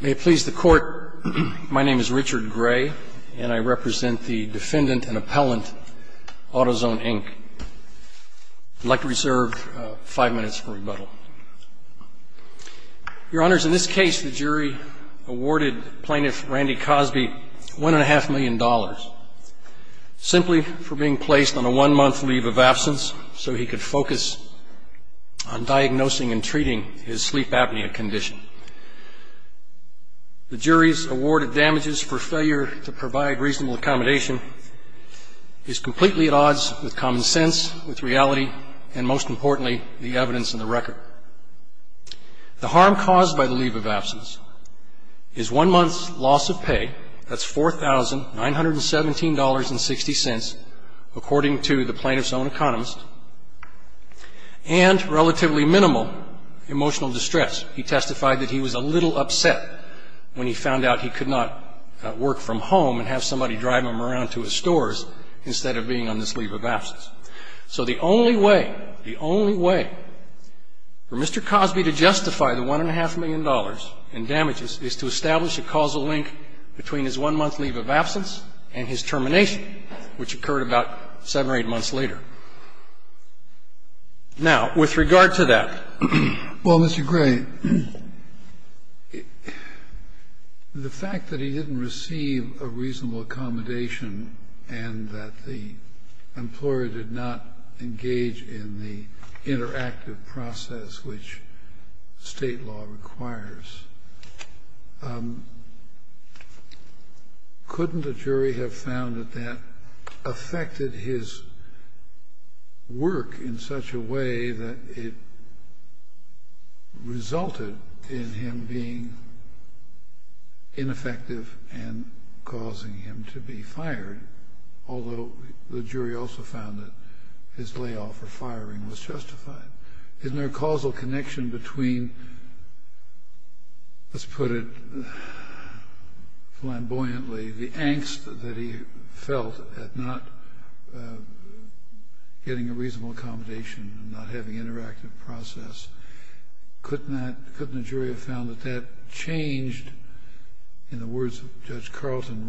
May it please the court, my name is Richard Gray and I represent the defendant and appellant Autozone, Inc. I'd like to reserve five minutes for rebuttal. Your honors, in this case the jury awarded plaintiff Randy Cosby one and a half million dollars simply for being placed on a one-month leave of absence so he could focus on diagnosing and treating his sleep apnea condition. The jury's award of damages for failure to provide reasonable accommodation is completely at odds with common sense, with reality, and most importantly, the evidence in the record. The harm caused by the leave of absence is one month's loss of pay, that's $4,917.60, according to the plaintiff's own economist, and relatively minimal emotional distress. He testified that he was a little upset when he found out he could not work from home and have somebody drive him around to his stores instead of being on this leave of absence. So the only way, the only way for Mr. Cosby to justify the $1.5 million in damages is to establish a causal link between his one-month leave of absence and his termination, which occurred about 7 or 8 months later. Now, with regard to that. Well, Mr. Gray, the fact that he didn't receive a reasonable accommodation and that the employer did not engage in the interactive process which State law requires, couldn't a jury have found that that affected his work in such a way that it resulted in him being ineffective and causing him to be fired? Although the jury also found that his layoff or firing was justified. Isn't there a causal connection between, let's put it flamboyantly, the angst that he felt at not getting a reasonable accommodation and not having an interactive process? Couldn't a jury have found that that changed, in the words of Judge Carlton,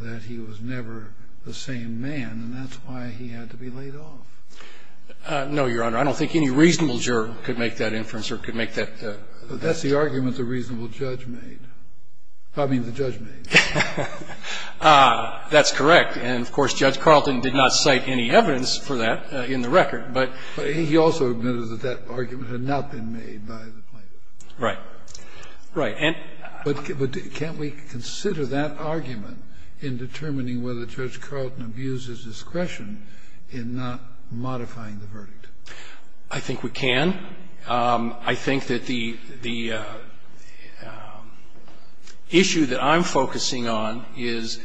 that he was never the same man and that's why he had to be laid off? No, Your Honor. I don't think any reasonable juror could make that inference or could make that. But that's the argument the reasonable judge made. I mean the judge made. That's correct. And, of course, Judge Carlton did not cite any evidence for that in the record. But he also admitted that that argument had not been made by the plaintiff. Right. Right. But can't we consider that argument in determining whether Judge Carlton abused his discretion in not modifying the verdict? I think we can. I think that the issue that I'm focusing on is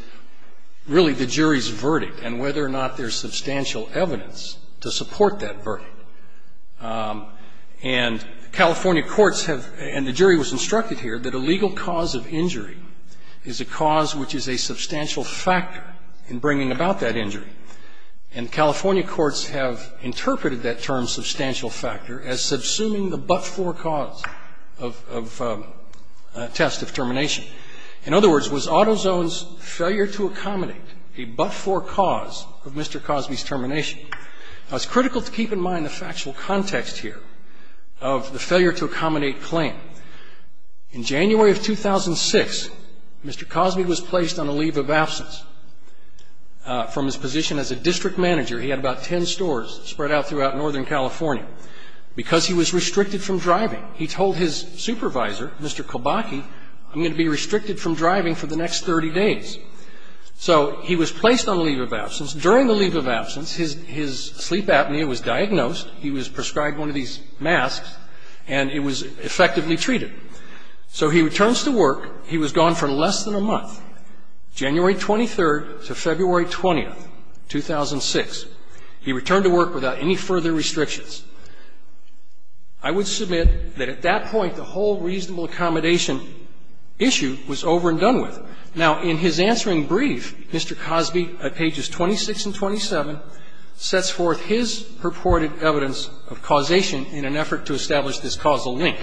really the jury's verdict and whether or not there's substantial evidence to support that verdict. And California courts have, and the jury was instructed here, that a legal cause of injury is a cause which is a substantial factor in bringing about that injury. And California courts have interpreted that term, substantial factor, as subsuming the but-for cause of a test of termination. In other words, was Autozone's failure to accommodate a but-for cause of Mr. Cosby's termination? Now, it's critical to keep in mind the factual context here of the failure to accommodate claim. In January of 2006, Mr. Cosby was placed on a leave of absence from his position as a district manager. He had about ten stores spread out throughout northern California. Because he was restricted from driving, he told his supervisor, Mr. Kobaki, I'm going to be restricted from driving for the next 30 days. So he was placed on leave of absence. During the leave of absence, his sleep apnea was diagnosed. He was prescribed one of these masks, and it was effectively treated. So he returns to work. He was gone for less than a month, January 23rd to February 20th, 2006. He returned to work without any further restrictions. I would submit that at that point, the whole reasonable accommodation issue was over and done with. Now, in his answering brief, Mr. Cosby at pages 26 and 27 sets forth his purported evidence of causation in an effort to establish this causal link.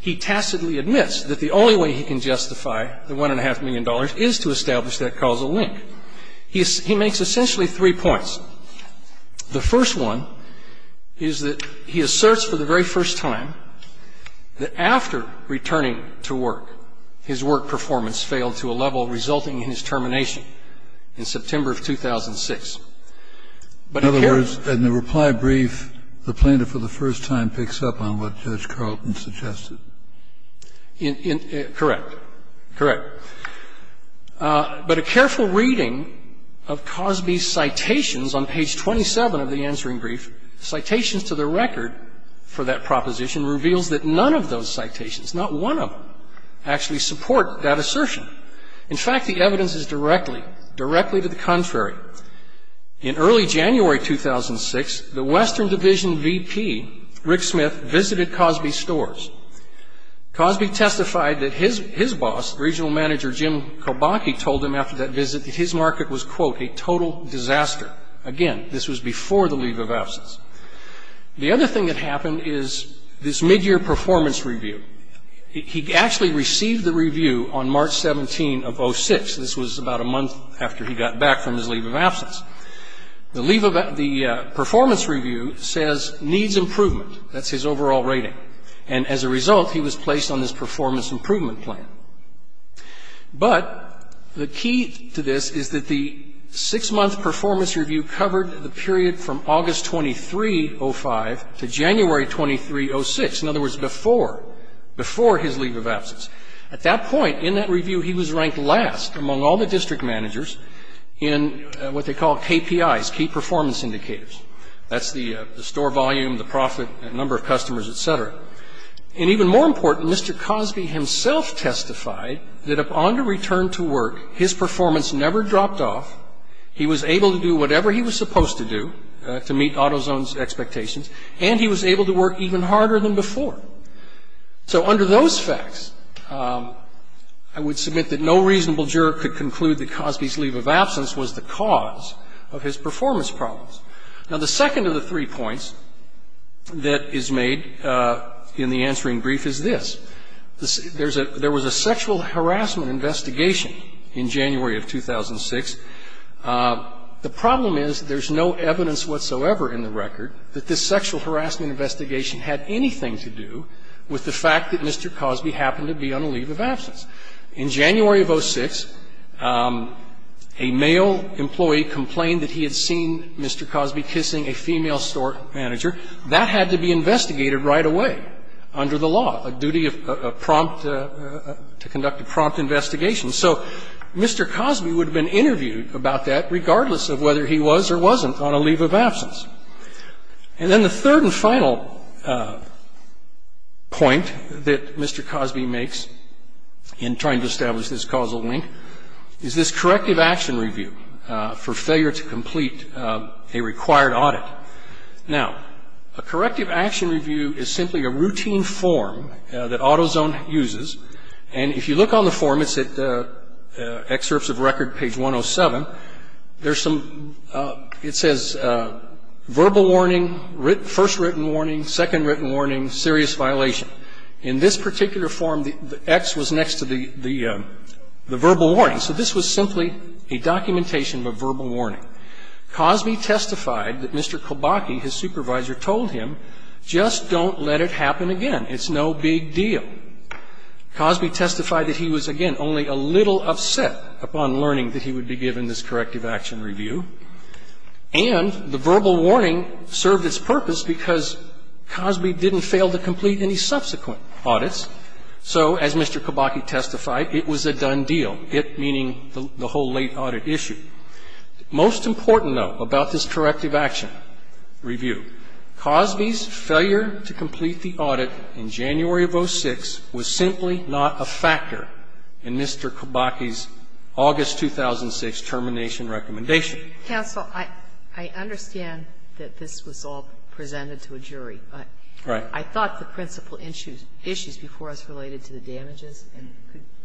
He tacitly admits that the only way he can justify the $1.5 million is to establish that causal link. He makes essentially three points. The first one is that he asserts for the very first time that after returning to work, his work performance failed to a level resulting in his termination in September of 2006. In other words, in the reply brief, the plaintiff for the first time picks up on what Judge Carlton suggested. Correct. Correct. But a careful reading of Cosby's citations on page 27 of the answering brief, citations to the record for that proposition, reveals that none of those citations, not one of them, actually support that assertion. In fact, the evidence is directly, directly to the contrary. In early January 2006, the Western Division VP, Rick Smith, visited Cosby's stores. Cosby testified that his boss, regional manager Jim Kobanke, told him after that visit that his market was, quote, a total disaster. Again, this was before the leave of absence. The other thing that happened is this midyear performance review. He actually received the review on March 17 of 06. This was about a month after he got back from his leave of absence. The leave of the performance review says needs improvement. That's his overall rating. And as a result, he was placed on this performance improvement plan. But the key to this is that the six-month performance review covered the period from August 2305 to January 2306. In other words, before, before his leave of absence. At that point in that review, he was ranked last among all the district managers in what they call KPIs, key performance indicators. That's the store volume, the profit, number of customers, et cetera. And even more important, Mr. Cosby himself testified that upon the return to work, his performance never dropped off. He was able to do whatever he was supposed to do to meet AutoZone's expectations, and he was able to work even harder than before. So under those facts, I would submit that no reasonable juror could conclude that Cosby's leave of absence was the cause of his performance problems. Now, the second of the three points that is made in the answering brief is this. There was a sexual harassment investigation in January of 2006. The problem is there's no evidence whatsoever in the record that this sexual harassment investigation had anything to do with the fact that Mr. Cosby happened to be on a leave of absence. In January of 2006, a male employee complained that he had seen Mr. Cosby kissing a female store manager. That had to be investigated right away under the law, a duty of prompt to conduct a prompt investigation. So Mr. Cosby would have been interviewed about that regardless of whether he was or wasn't on a leave of absence. And then the third and final point that Mr. Cosby makes in trying to establish this causal link is this corrective action review for failure to complete a required audit. Now, a corrective action review is simply a routine form that AutoZone uses. And if you look on the form, it's at excerpts of record page 107. There's some ‑‑ it says verbal warning, first written warning, second written warning, serious violation. In this particular form, the X was next to the verbal warning. So this was simply a documentation of a verbal warning. Cosby testified that Mr. Kobaki, his supervisor, told him, just don't let it happen again. It's no big deal. Cosby testified that he was, again, only a little upset upon learning that he would be given this corrective action review. And the verbal warning served its purpose because Cosby didn't fail to complete any subsequent audits. So as Mr. Kobaki testified, it was a done deal, it meaning the whole late audit issue. Most important, though, about this corrective action review, Cosby's failure to complete the audit in January of 06 was simply not a factor in Mr. Kobaki's August 2006 termination recommendation. Counsel, I understand that this was all presented to a jury. Right. I thought the principal issues before us related to the damages, and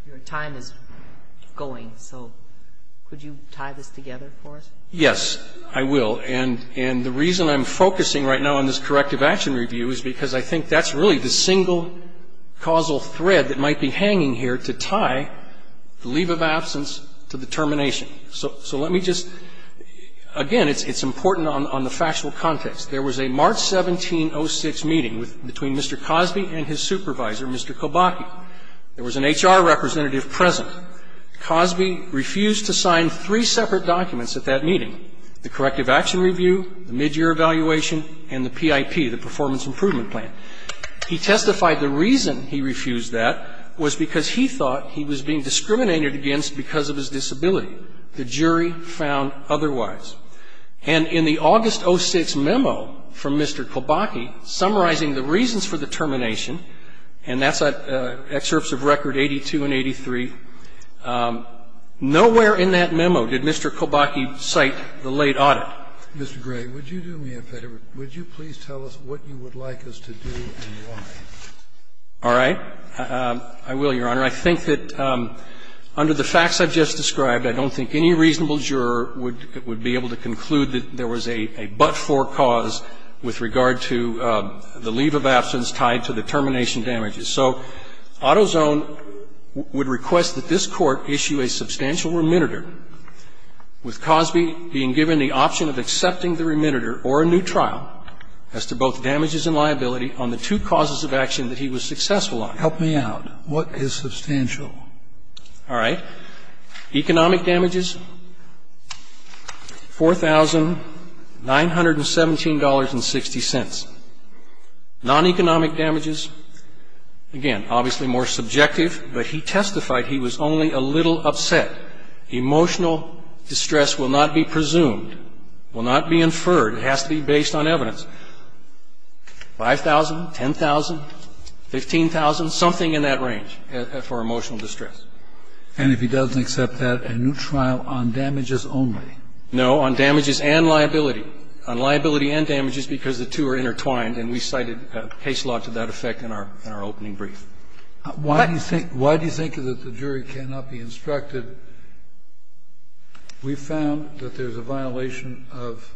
your time is going. So could you tie this together for us? Yes, I will. And the reason I'm focusing right now on this corrective action review is because I think that's really the single causal thread that might be hanging here to tie the leave of absence to the termination. So let me just, again, it's important on the factual context. There was a March 1706 meeting between Mr. Cosby and his supervisor, Mr. Kobaki. There was an HR representative present. Cosby refused to sign three separate documents at that meeting, the corrective action review, the midyear evaluation, and the PIP, the performance improvement plan. He testified the reason he refused that was because he thought he was being discriminated against because of his disability. The jury found otherwise. And in the August 06 memo from Mr. Kobaki, summarizing the reasons for the termination, and that's excerpts of record 82 and 83, nowhere in that memo did Mr. Kobaki cite the cause with regard to the leave of absence tied to the termination damages. Mr. Gray, would you do me a favor? Would you please tell us what you would like us to do and why? All right. I will, Your Honor. I think that under the facts I've just described, I don't think any reasonable juror would be able to conclude that there was a but-for cause with regard to the leave of absence tied to the termination damages. So AutoZone would request that this Court issue a substantial remitter with Cosby being given the option of accepting the remitter or a new trial as to both damages and liability on the two causes of action that he was successful on. Help me out. What is substantial? All right. Economic damages, $4,917.60. Non-economic damages, again, obviously more subjective, but he testified he was only a little upset. Emotional distress will not be presumed, will not be inferred. It has to be based on evidence. $5,000, $10,000, $15,000, something in that range for emotional distress. And if he doesn't accept that, a new trial on damages only? No, on damages and liability. On liability and damages, because the two are intertwined, and we cited case law to that effect in our opening brief. Why do you think that the jury cannot be instructed? We found that there's a violation of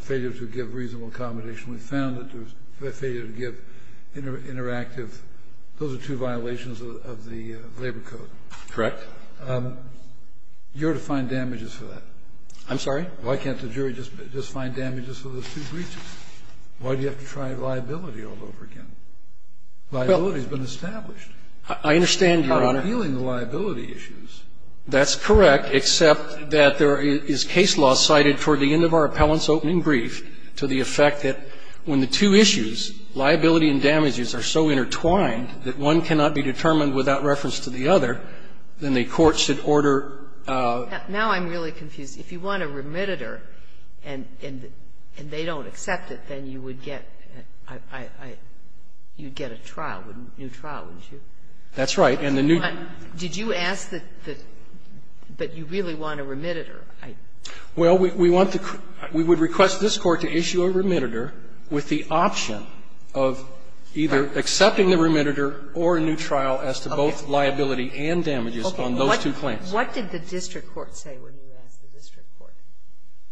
failure to give reasonable accommodation. We found that there was failure to give interactive. Those are two violations of the Labor Code. Correct. You're to find damages for that. I'm sorry? Why can't the jury just find damages for those two breaches? Why do you have to try liability all over again? Liability has been established. I understand, Your Honor. You're appealing the liability issues. That's correct, except that there is case law cited toward the end of our appellant's opening brief to the effect that when the two issues, liability and damages, are so intertwined that one cannot be determined without reference to the other, then the court should order a new trial. Now I'm really confused. If you want a remittitor and they don't accept it, then you would get a trial, a new trial, wouldn't you? That's right. Did you ask that you really want a remittitor? Well, we want to – we would request this Court to issue a remittitor with the option of either accepting the remittitor or a new trial as to both liability and damages on those two claims. Okay. What did the district court say when you asked the district court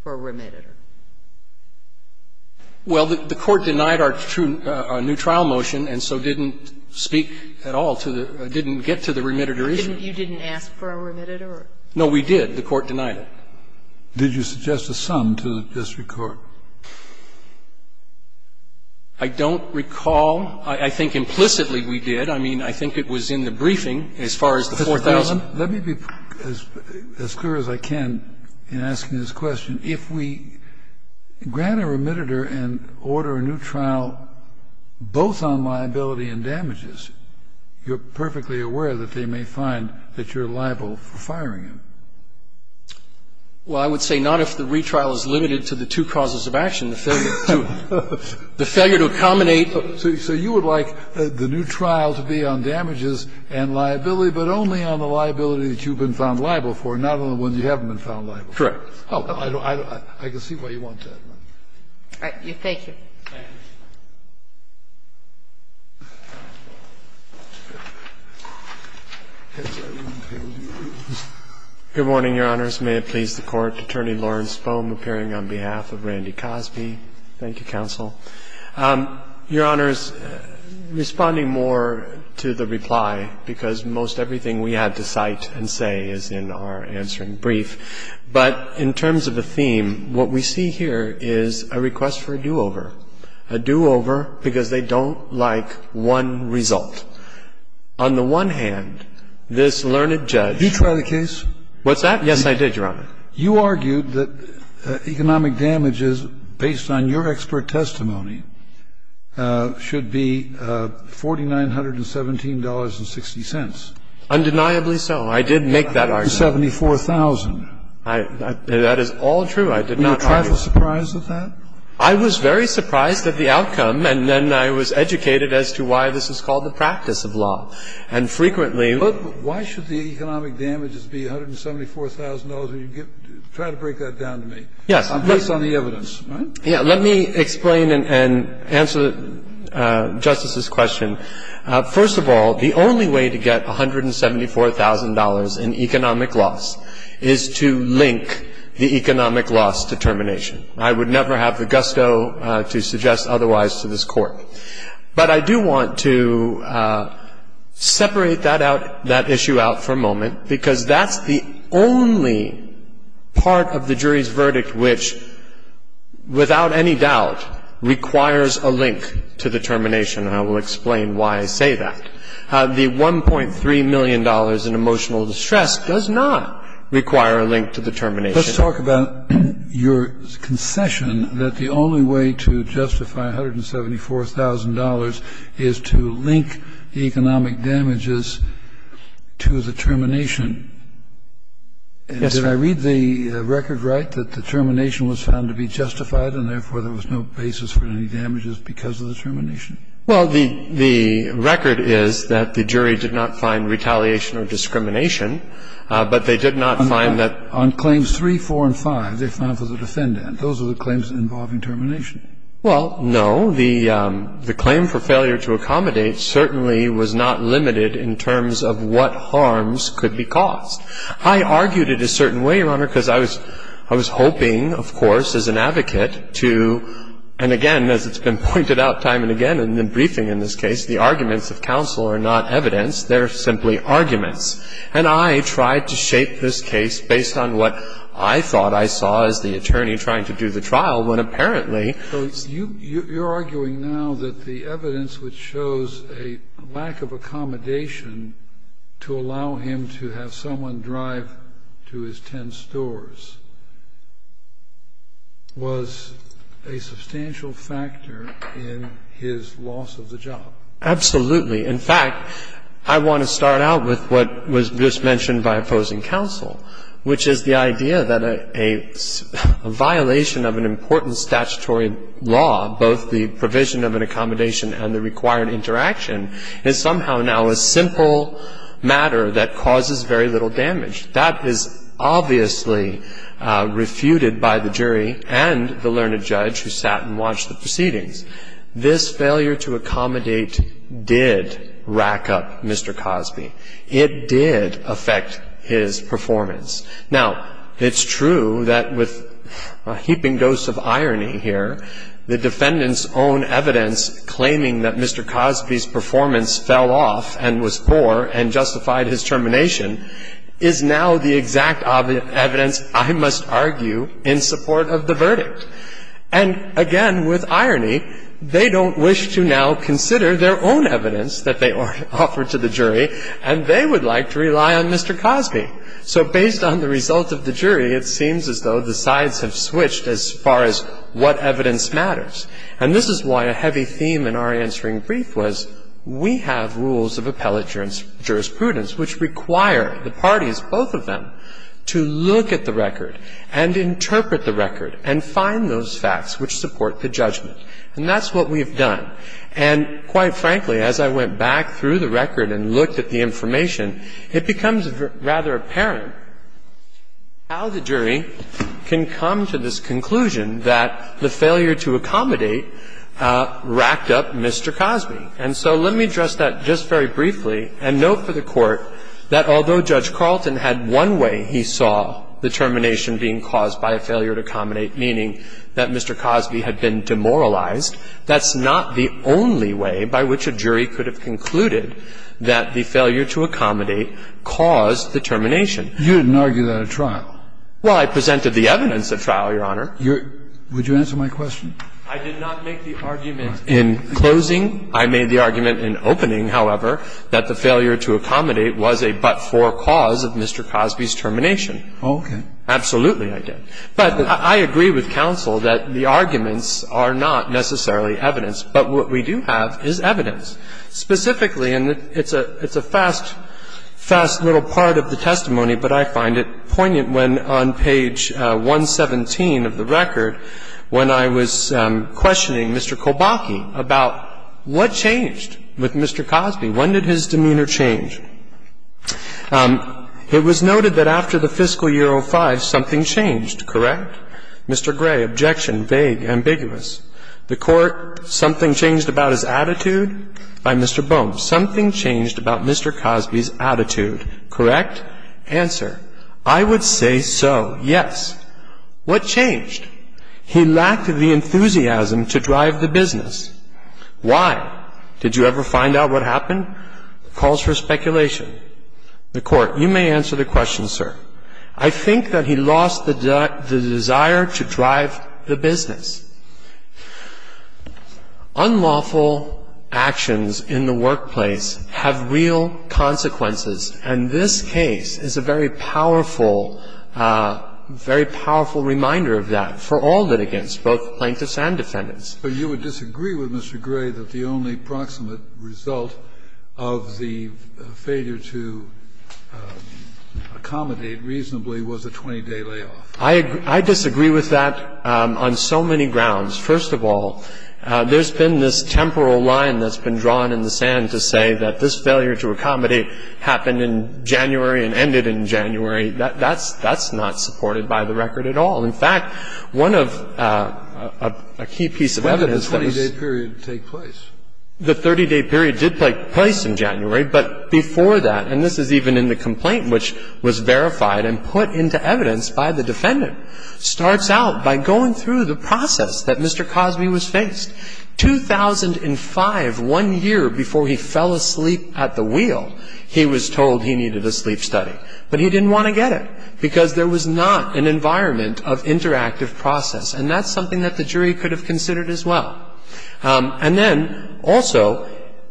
for a remittitor? Well, the Court denied our new trial motion and so didn't speak at all to the – didn't get to the remittitor issue. You didn't ask for a remittitor? No, we did. The Court denied it. Did you suggest a sum to the district court? I don't recall. I think implicitly we did. I mean, I think it was in the briefing as far as the 4,000. Let me be as clear as I can in asking this question. If we grant a remittitor and order a new trial both on liability and damages, you're perfectly aware that they may find that you're liable for firing him. Well, I would say not if the retrial is limited to the two causes of action, the failure to accommodate. So you would like the new trial to be on damages and liability, but only on the liability that you've been found liable for, not on the ones you haven't been found liable for. Correct. I can see why you want that. All right. Thank you. Thank you. Good morning, Your Honors. May it please the Court. Attorney Lawrence Fohm appearing on behalf of Randy Cosby. Thank you, counsel. Your Honors, responding more to the reply, because most everything we had to cite and say is in our answering brief, but in terms of the theme, what we see here is a request for a do-over, a do-over because they don't like one result. On the one hand, this learned judge. Did you try the case? What's that? Yes, I did, Your Honor. You argued that economic damages, based on your expert testimony, should be $4,917.60. Undeniably so. I did make that argument. $474,000. That is all true. I did not argue. Were you quite surprised at that? I was very surprised at the outcome, and then I was educated as to why this is called the practice of law. And frequently we argue. Why should the economic damages be $174,000? Try to break that down to me. Yes. Based on the evidence, right? Yes. Let me explain and answer Justice's question. First of all, the only way to get $174,000 in economic loss is to link the economic loss to termination. I would never have the gusto to suggest otherwise to this Court. But I do want to separate that issue out for a moment, because that's the only part of the jury's verdict which, without any doubt, requires a link to the termination, and I will explain why I say that. The $1.3 million in emotional distress does not require a link to the termination. Let's talk about your concession that the only way to justify $174,000 is to link the economic damages to the termination. Yes, sir. Did I read the record right, that the termination was found to be justified, and therefore there was no basis for any damages because of the termination? Well, the record is that the jury did not find retaliation or discrimination, but they did not find that on claims 3, 4, and 5, they found for the defendant. Those are the claims involving termination. Well, no. The claim for failure to accommodate certainly was not limited in terms of what harms could be caused. I argued it a certain way, Your Honor, because I was hoping, of course, as an advocate to, and again, as it's been pointed out time and again in the briefing in this case, the arguments of counsel are not evidence. They're simply arguments. And I tried to shape this case based on what I thought I saw as the attorney trying to do the trial, when apparently you're arguing now that the evidence which shows a lack of accommodation to allow him to have someone drive to his ten stores was a substantial factor in his loss of the job. Absolutely. In fact, I want to start out with what was just mentioned by opposing counsel, which is the idea that a violation of an important statutory law, both the provision of an accommodation and the required interaction, is somehow now a simple matter that causes very little damage. That is obviously refuted by the jury and the learned judge who sat and watched the proceedings. This failure to accommodate did rack up Mr. Cosby. It did affect his performance. Now, it's true that with a heaping dose of irony here, the defendant's own evidence claiming that Mr. Cosby's performance fell off and was poor and justified his termination is now the exact evidence, I must argue, in support of the verdict. And again, with irony, they don't wish to now consider their own evidence that they offer to the jury, and they would like to rely on Mr. Cosby. So based on the result of the jury, it seems as though the sides have switched as far as what evidence matters. And this is why a heavy theme in our answering brief was we have rules of appellate jurisprudence which require the parties, both of them, to look at the record and interpret the record and find those facts which support the judgment. And that's what we have done. And quite frankly, as I went back through the record and looked at the information, it becomes rather apparent how the jury can come to this conclusion that the failure to accommodate racked up Mr. Cosby. And so let me address that just very briefly and note for the Court that although Judge Carlton had one way he saw the termination being caused by a failure to accommodate, meaning that Mr. Cosby had been demoralized, that's not the only way by which a jury could have concluded that the failure to accommodate caused the termination. You didn't argue that at trial. Well, I presented the evidence at trial, Your Honor. Would you answer my question? I did not make the argument in closing. I made the argument in opening, however, that the failure to accommodate was a but-for cause of Mr. Cosby's termination. Okay. Absolutely, I did. But I agree with counsel that the arguments are not necessarily evidence. But what we do have is evidence. Specifically, and it's a fast, fast little part of the testimony, but I find it poignant when on page 117 of the record, when I was questioning Mr. Kolbaki about what changed with Mr. Cosby. When did his demeanor change? It was noted that after the fiscal year 05, something changed, correct? Mr. Gray, objection, vague, ambiguous. The Court, something changed about his attitude? By Mr. Boehm. Something changed about Mr. Cosby's attitude, correct? Answer. I would say so, yes. What changed? He lacked the enthusiasm to drive the business. Why? Did you ever find out what happened? Calls for speculation. The Court, you may answer the question, sir. I think that he lost the desire to drive the business. Unlawful actions in the workplace have real consequences, and this case is a very powerful, very powerful reminder of that for all litigants, both plaintiffs and defendants. But you would disagree with Mr. Gray that the only proximate result of the failure to accommodate reasonably was a 20-day layoff. I disagree with that on so many grounds. First of all, there's been this temporal line that's been drawn in the sand to say that this failure to accommodate happened in January and ended in January. That's not supported by the record at all. In fact, one of a key piece of evidence that was ---- When did the 20-day period take place? The 30-day period did take place in January, but before that, and this is even in the case of the defendant, starts out by going through the process that Mr. Cosby was faced. 2005, one year before he fell asleep at the wheel, he was told he needed a sleep study. But he didn't want to get it because there was not an environment of interactive process, and that's something that the jury could have considered as well. And then also,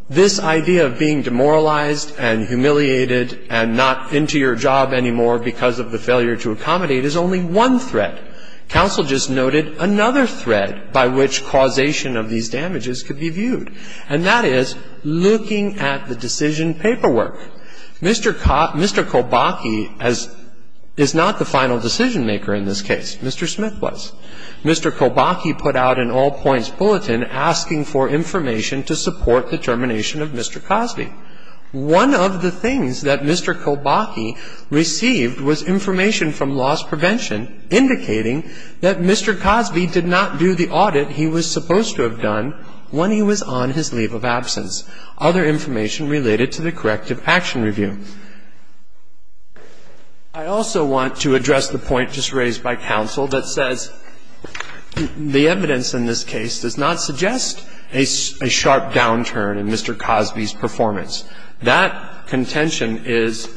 this idea of being demoralized and humiliated and not into your job anymore because of the failure to accommodate is only one threat. Counsel just noted another threat by which causation of these damages could be viewed, and that is looking at the decision paperwork. Mr. Cobakee is not the final decision maker in this case. Mr. Smith was. Mr. Cobakee put out an all-points bulletin asking for information to support the termination of Mr. Cosby. One of the things that Mr. Cobakee received was information from loss prevention indicating that Mr. Cosby did not do the audit he was supposed to have done when he was on his leave of absence. Other information related to the corrective action review. I also want to address the point just raised by counsel that says the evidence in this case does not suggest a sharp downturn in Mr. Cosby's performance. That contention is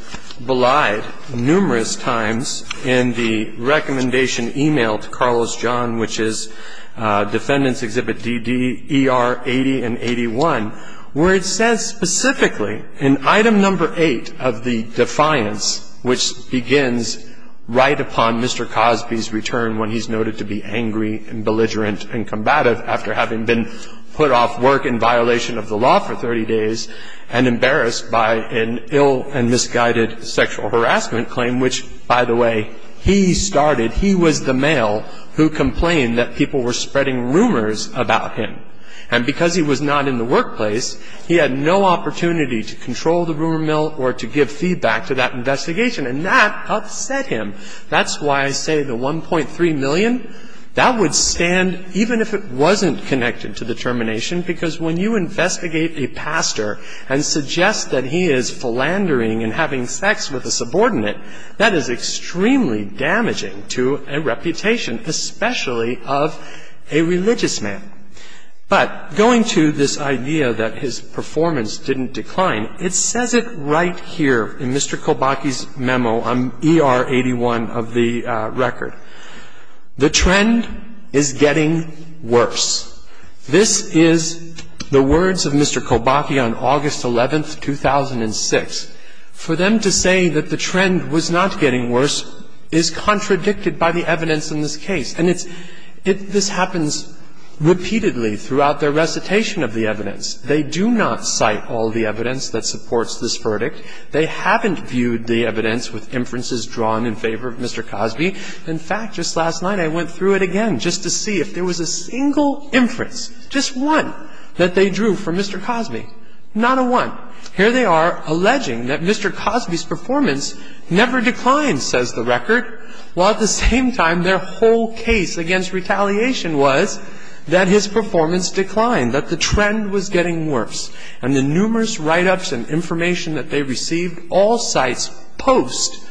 belied numerous times in the recommendation emailed to Carlos John, which is Defendants Exhibit DD, ER 80 and 81, where it says specifically in Item No. 8 of the defiance, which begins right upon Mr. Cosby's return when he's noted to be angry and belligerent and combative after having been put off work in the past, and embarrassed by an ill and misguided sexual harassment claim, which, by the way, he started. He was the male who complained that people were spreading rumors about him. And because he was not in the workplace, he had no opportunity to control the rumor mill or to give feedback to that investigation. And that upset him. That's why I say the $1.3 million, that would stand even if it wasn't connected to the termination, because when you investigate a pastor and suggest that he is philandering and having sex with a subordinate, that is extremely damaging to a reputation, especially of a religious man. But going to this idea that his performance didn't decline, it says it right here in Mr. Kolbaki's memo on ER 81 of the record. The trend is getting worse. This is the words of Mr. Kolbaki on August 11, 2006. For them to say that the trend was not getting worse is contradicted by the evidence in this case. And this happens repeatedly throughout their recitation of the evidence. They do not cite all the evidence that supports this verdict. They haven't viewed the evidence with inferences drawn in favor of Mr. Cosby. In fact, just last night I went through it again just to see if there was a single inference, just one, that they drew for Mr. Cosby. Not a one. Here they are alleging that Mr. Cosby's performance never declined, says the record, while at the same time their whole case against retaliation was that his performance declined, that the trend was getting worse. And the numerous write-ups and information that they received, all cites post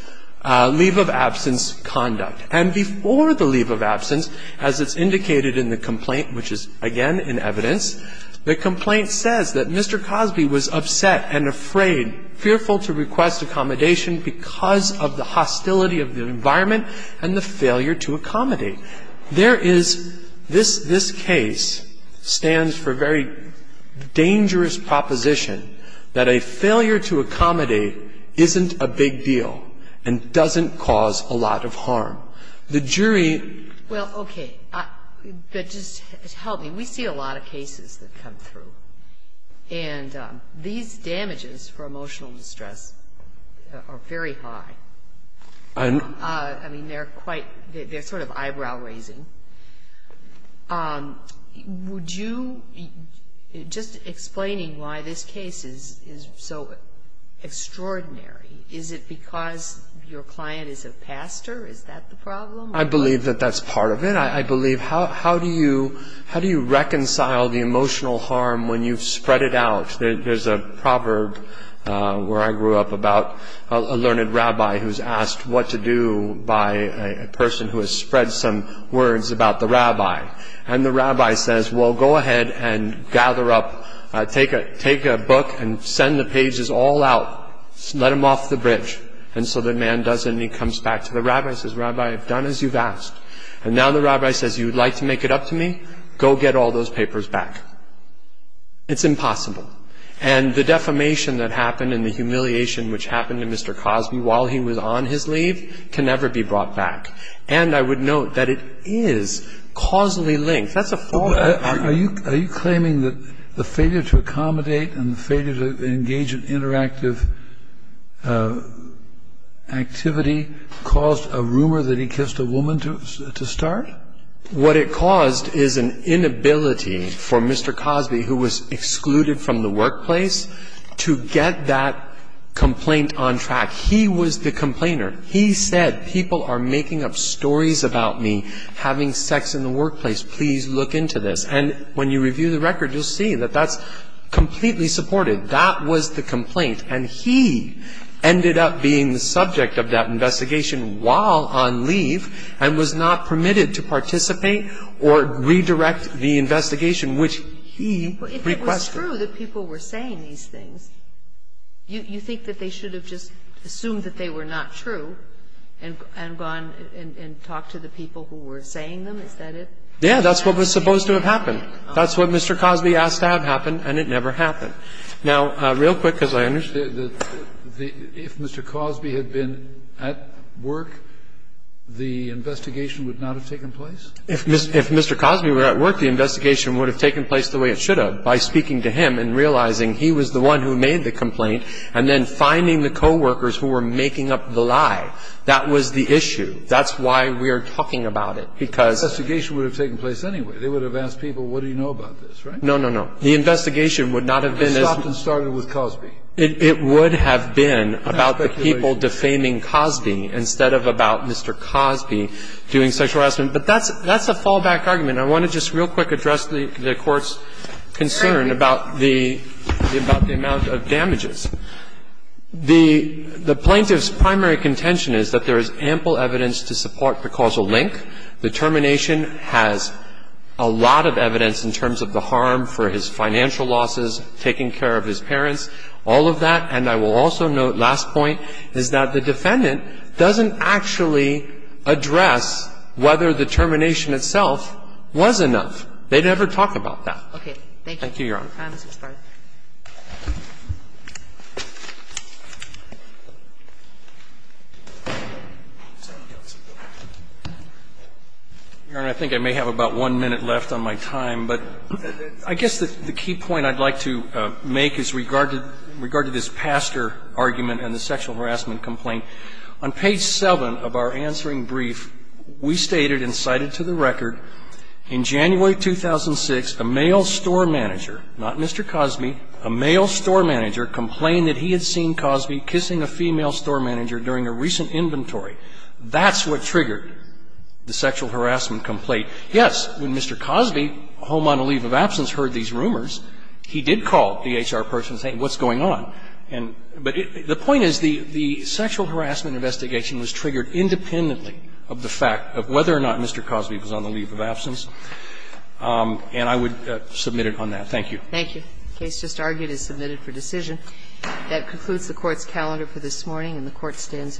leave of absence conduct. And before the leave of absence, as it's indicated in the complaint, which is again in evidence, the complaint says that Mr. Cosby was upset and afraid, fearful to request accommodation because of the hostility of the environment and the failure to accommodate. There is this case stands for very dangerous proposition that a failure to accommodate isn't a big deal and doesn't cause a lot of harm. The jury. Well, okay. But just help me. We see a lot of cases that come through. And these damages for emotional distress are very high. I mean, they're quite, they're sort of eyebrow raising. Would you, just explaining why this case is so extraordinary. Is it because your client is a pastor? Is that the problem? I believe that that's part of it. I believe, how do you reconcile the emotional harm when you've spread it out? There's a proverb where I grew up about a learned rabbi who's asked what to do by a person who has spread some words about the rabbi. And the rabbi says, well, go ahead and gather up, take a book and send the pages all out. Let them off the bridge. And so the man does and he comes back to the rabbi and says, rabbi, I've done as you've asked. And now the rabbi says, you'd like to make it up to me? Go get all those papers back. It's impossible. And the defamation that happened and the humiliation which happened to Mr. Cosby while he was on his leave can never be brought back. And I would note that it is causally linked. Are you claiming that the failure to accommodate and the failure to engage in interactive activity caused a rumor that he kissed a woman to start? What it caused is an inability for Mr. Cosby, who was excluded from the workplace, to get that complaint on track. He was the complainer. He said, people are making up stories about me having sex in the workplace. Please look into this. And when you review the record, you'll see that that's completely supported. That was the complaint. And he ended up being the subject of that investigation while on leave and was not permitted to participate or redirect the investigation, which he requested. Well, if it was true that people were saying these things, you think that they should have just assumed that they were not true and gone and talked to the people who were saying them? Is that it? Yeah, that's what was supposed to have happened. That's what Mr. Cosby asked to have happen, and it never happened. Now, real quick, because I understand that if Mr. Cosby had been at work, the investigation would not have taken place? If Mr. Cosby were at work, the investigation would have taken place the way it should have, by speaking to him and realizing he was the one who made the complaint and then finding the co-workers who were making up the lie. That was the issue. That's why we're talking about it, because the investigation would have taken place anyway. They would have asked people, what do you know about this, right? No, no, no. The investigation would not have been as... It stopped and started with Cosby. It would have been about the people defaming Cosby instead of about Mr. Cosby doing sexual harassment. But that's a fallback argument. I want to just real quick address the Court's concern about the amount of damages. The plaintiff's primary contention is that there is ample evidence to support the causal link. The termination has a lot of evidence in terms of the harm for his financial losses, taking care of his parents, all of that. And I will also note, last point, is that the defendant doesn't actually address whether the termination itself was enough. Thank you, Your Honor. If there are no further comments, we'll start. Your Honor, I think I may have about one minute left on my time. But I guess the key point I'd like to make is regard to this pastor argument and the sexual harassment complaint. On page 7 of our answering brief, we stated and cited to the record, in January 2006, a male store manager, not Mr. Cosby, a male store manager complained that he had seen Cosby kissing a female store manager during a recent inventory. That's what triggered the sexual harassment complaint. Yes, when Mr. Cosby, home on a leave of absence, heard these rumors, he did call the HR person and say, what's going on? But the point is the sexual harassment investigation was triggered independently of the fact of whether or not Mr. Cosby was on the leave of absence. And I would submit it on that. Thank you. Thank you. The case just argued is submitted for decision. That concludes the Court's calendar for this morning, and the Court stands adjourned.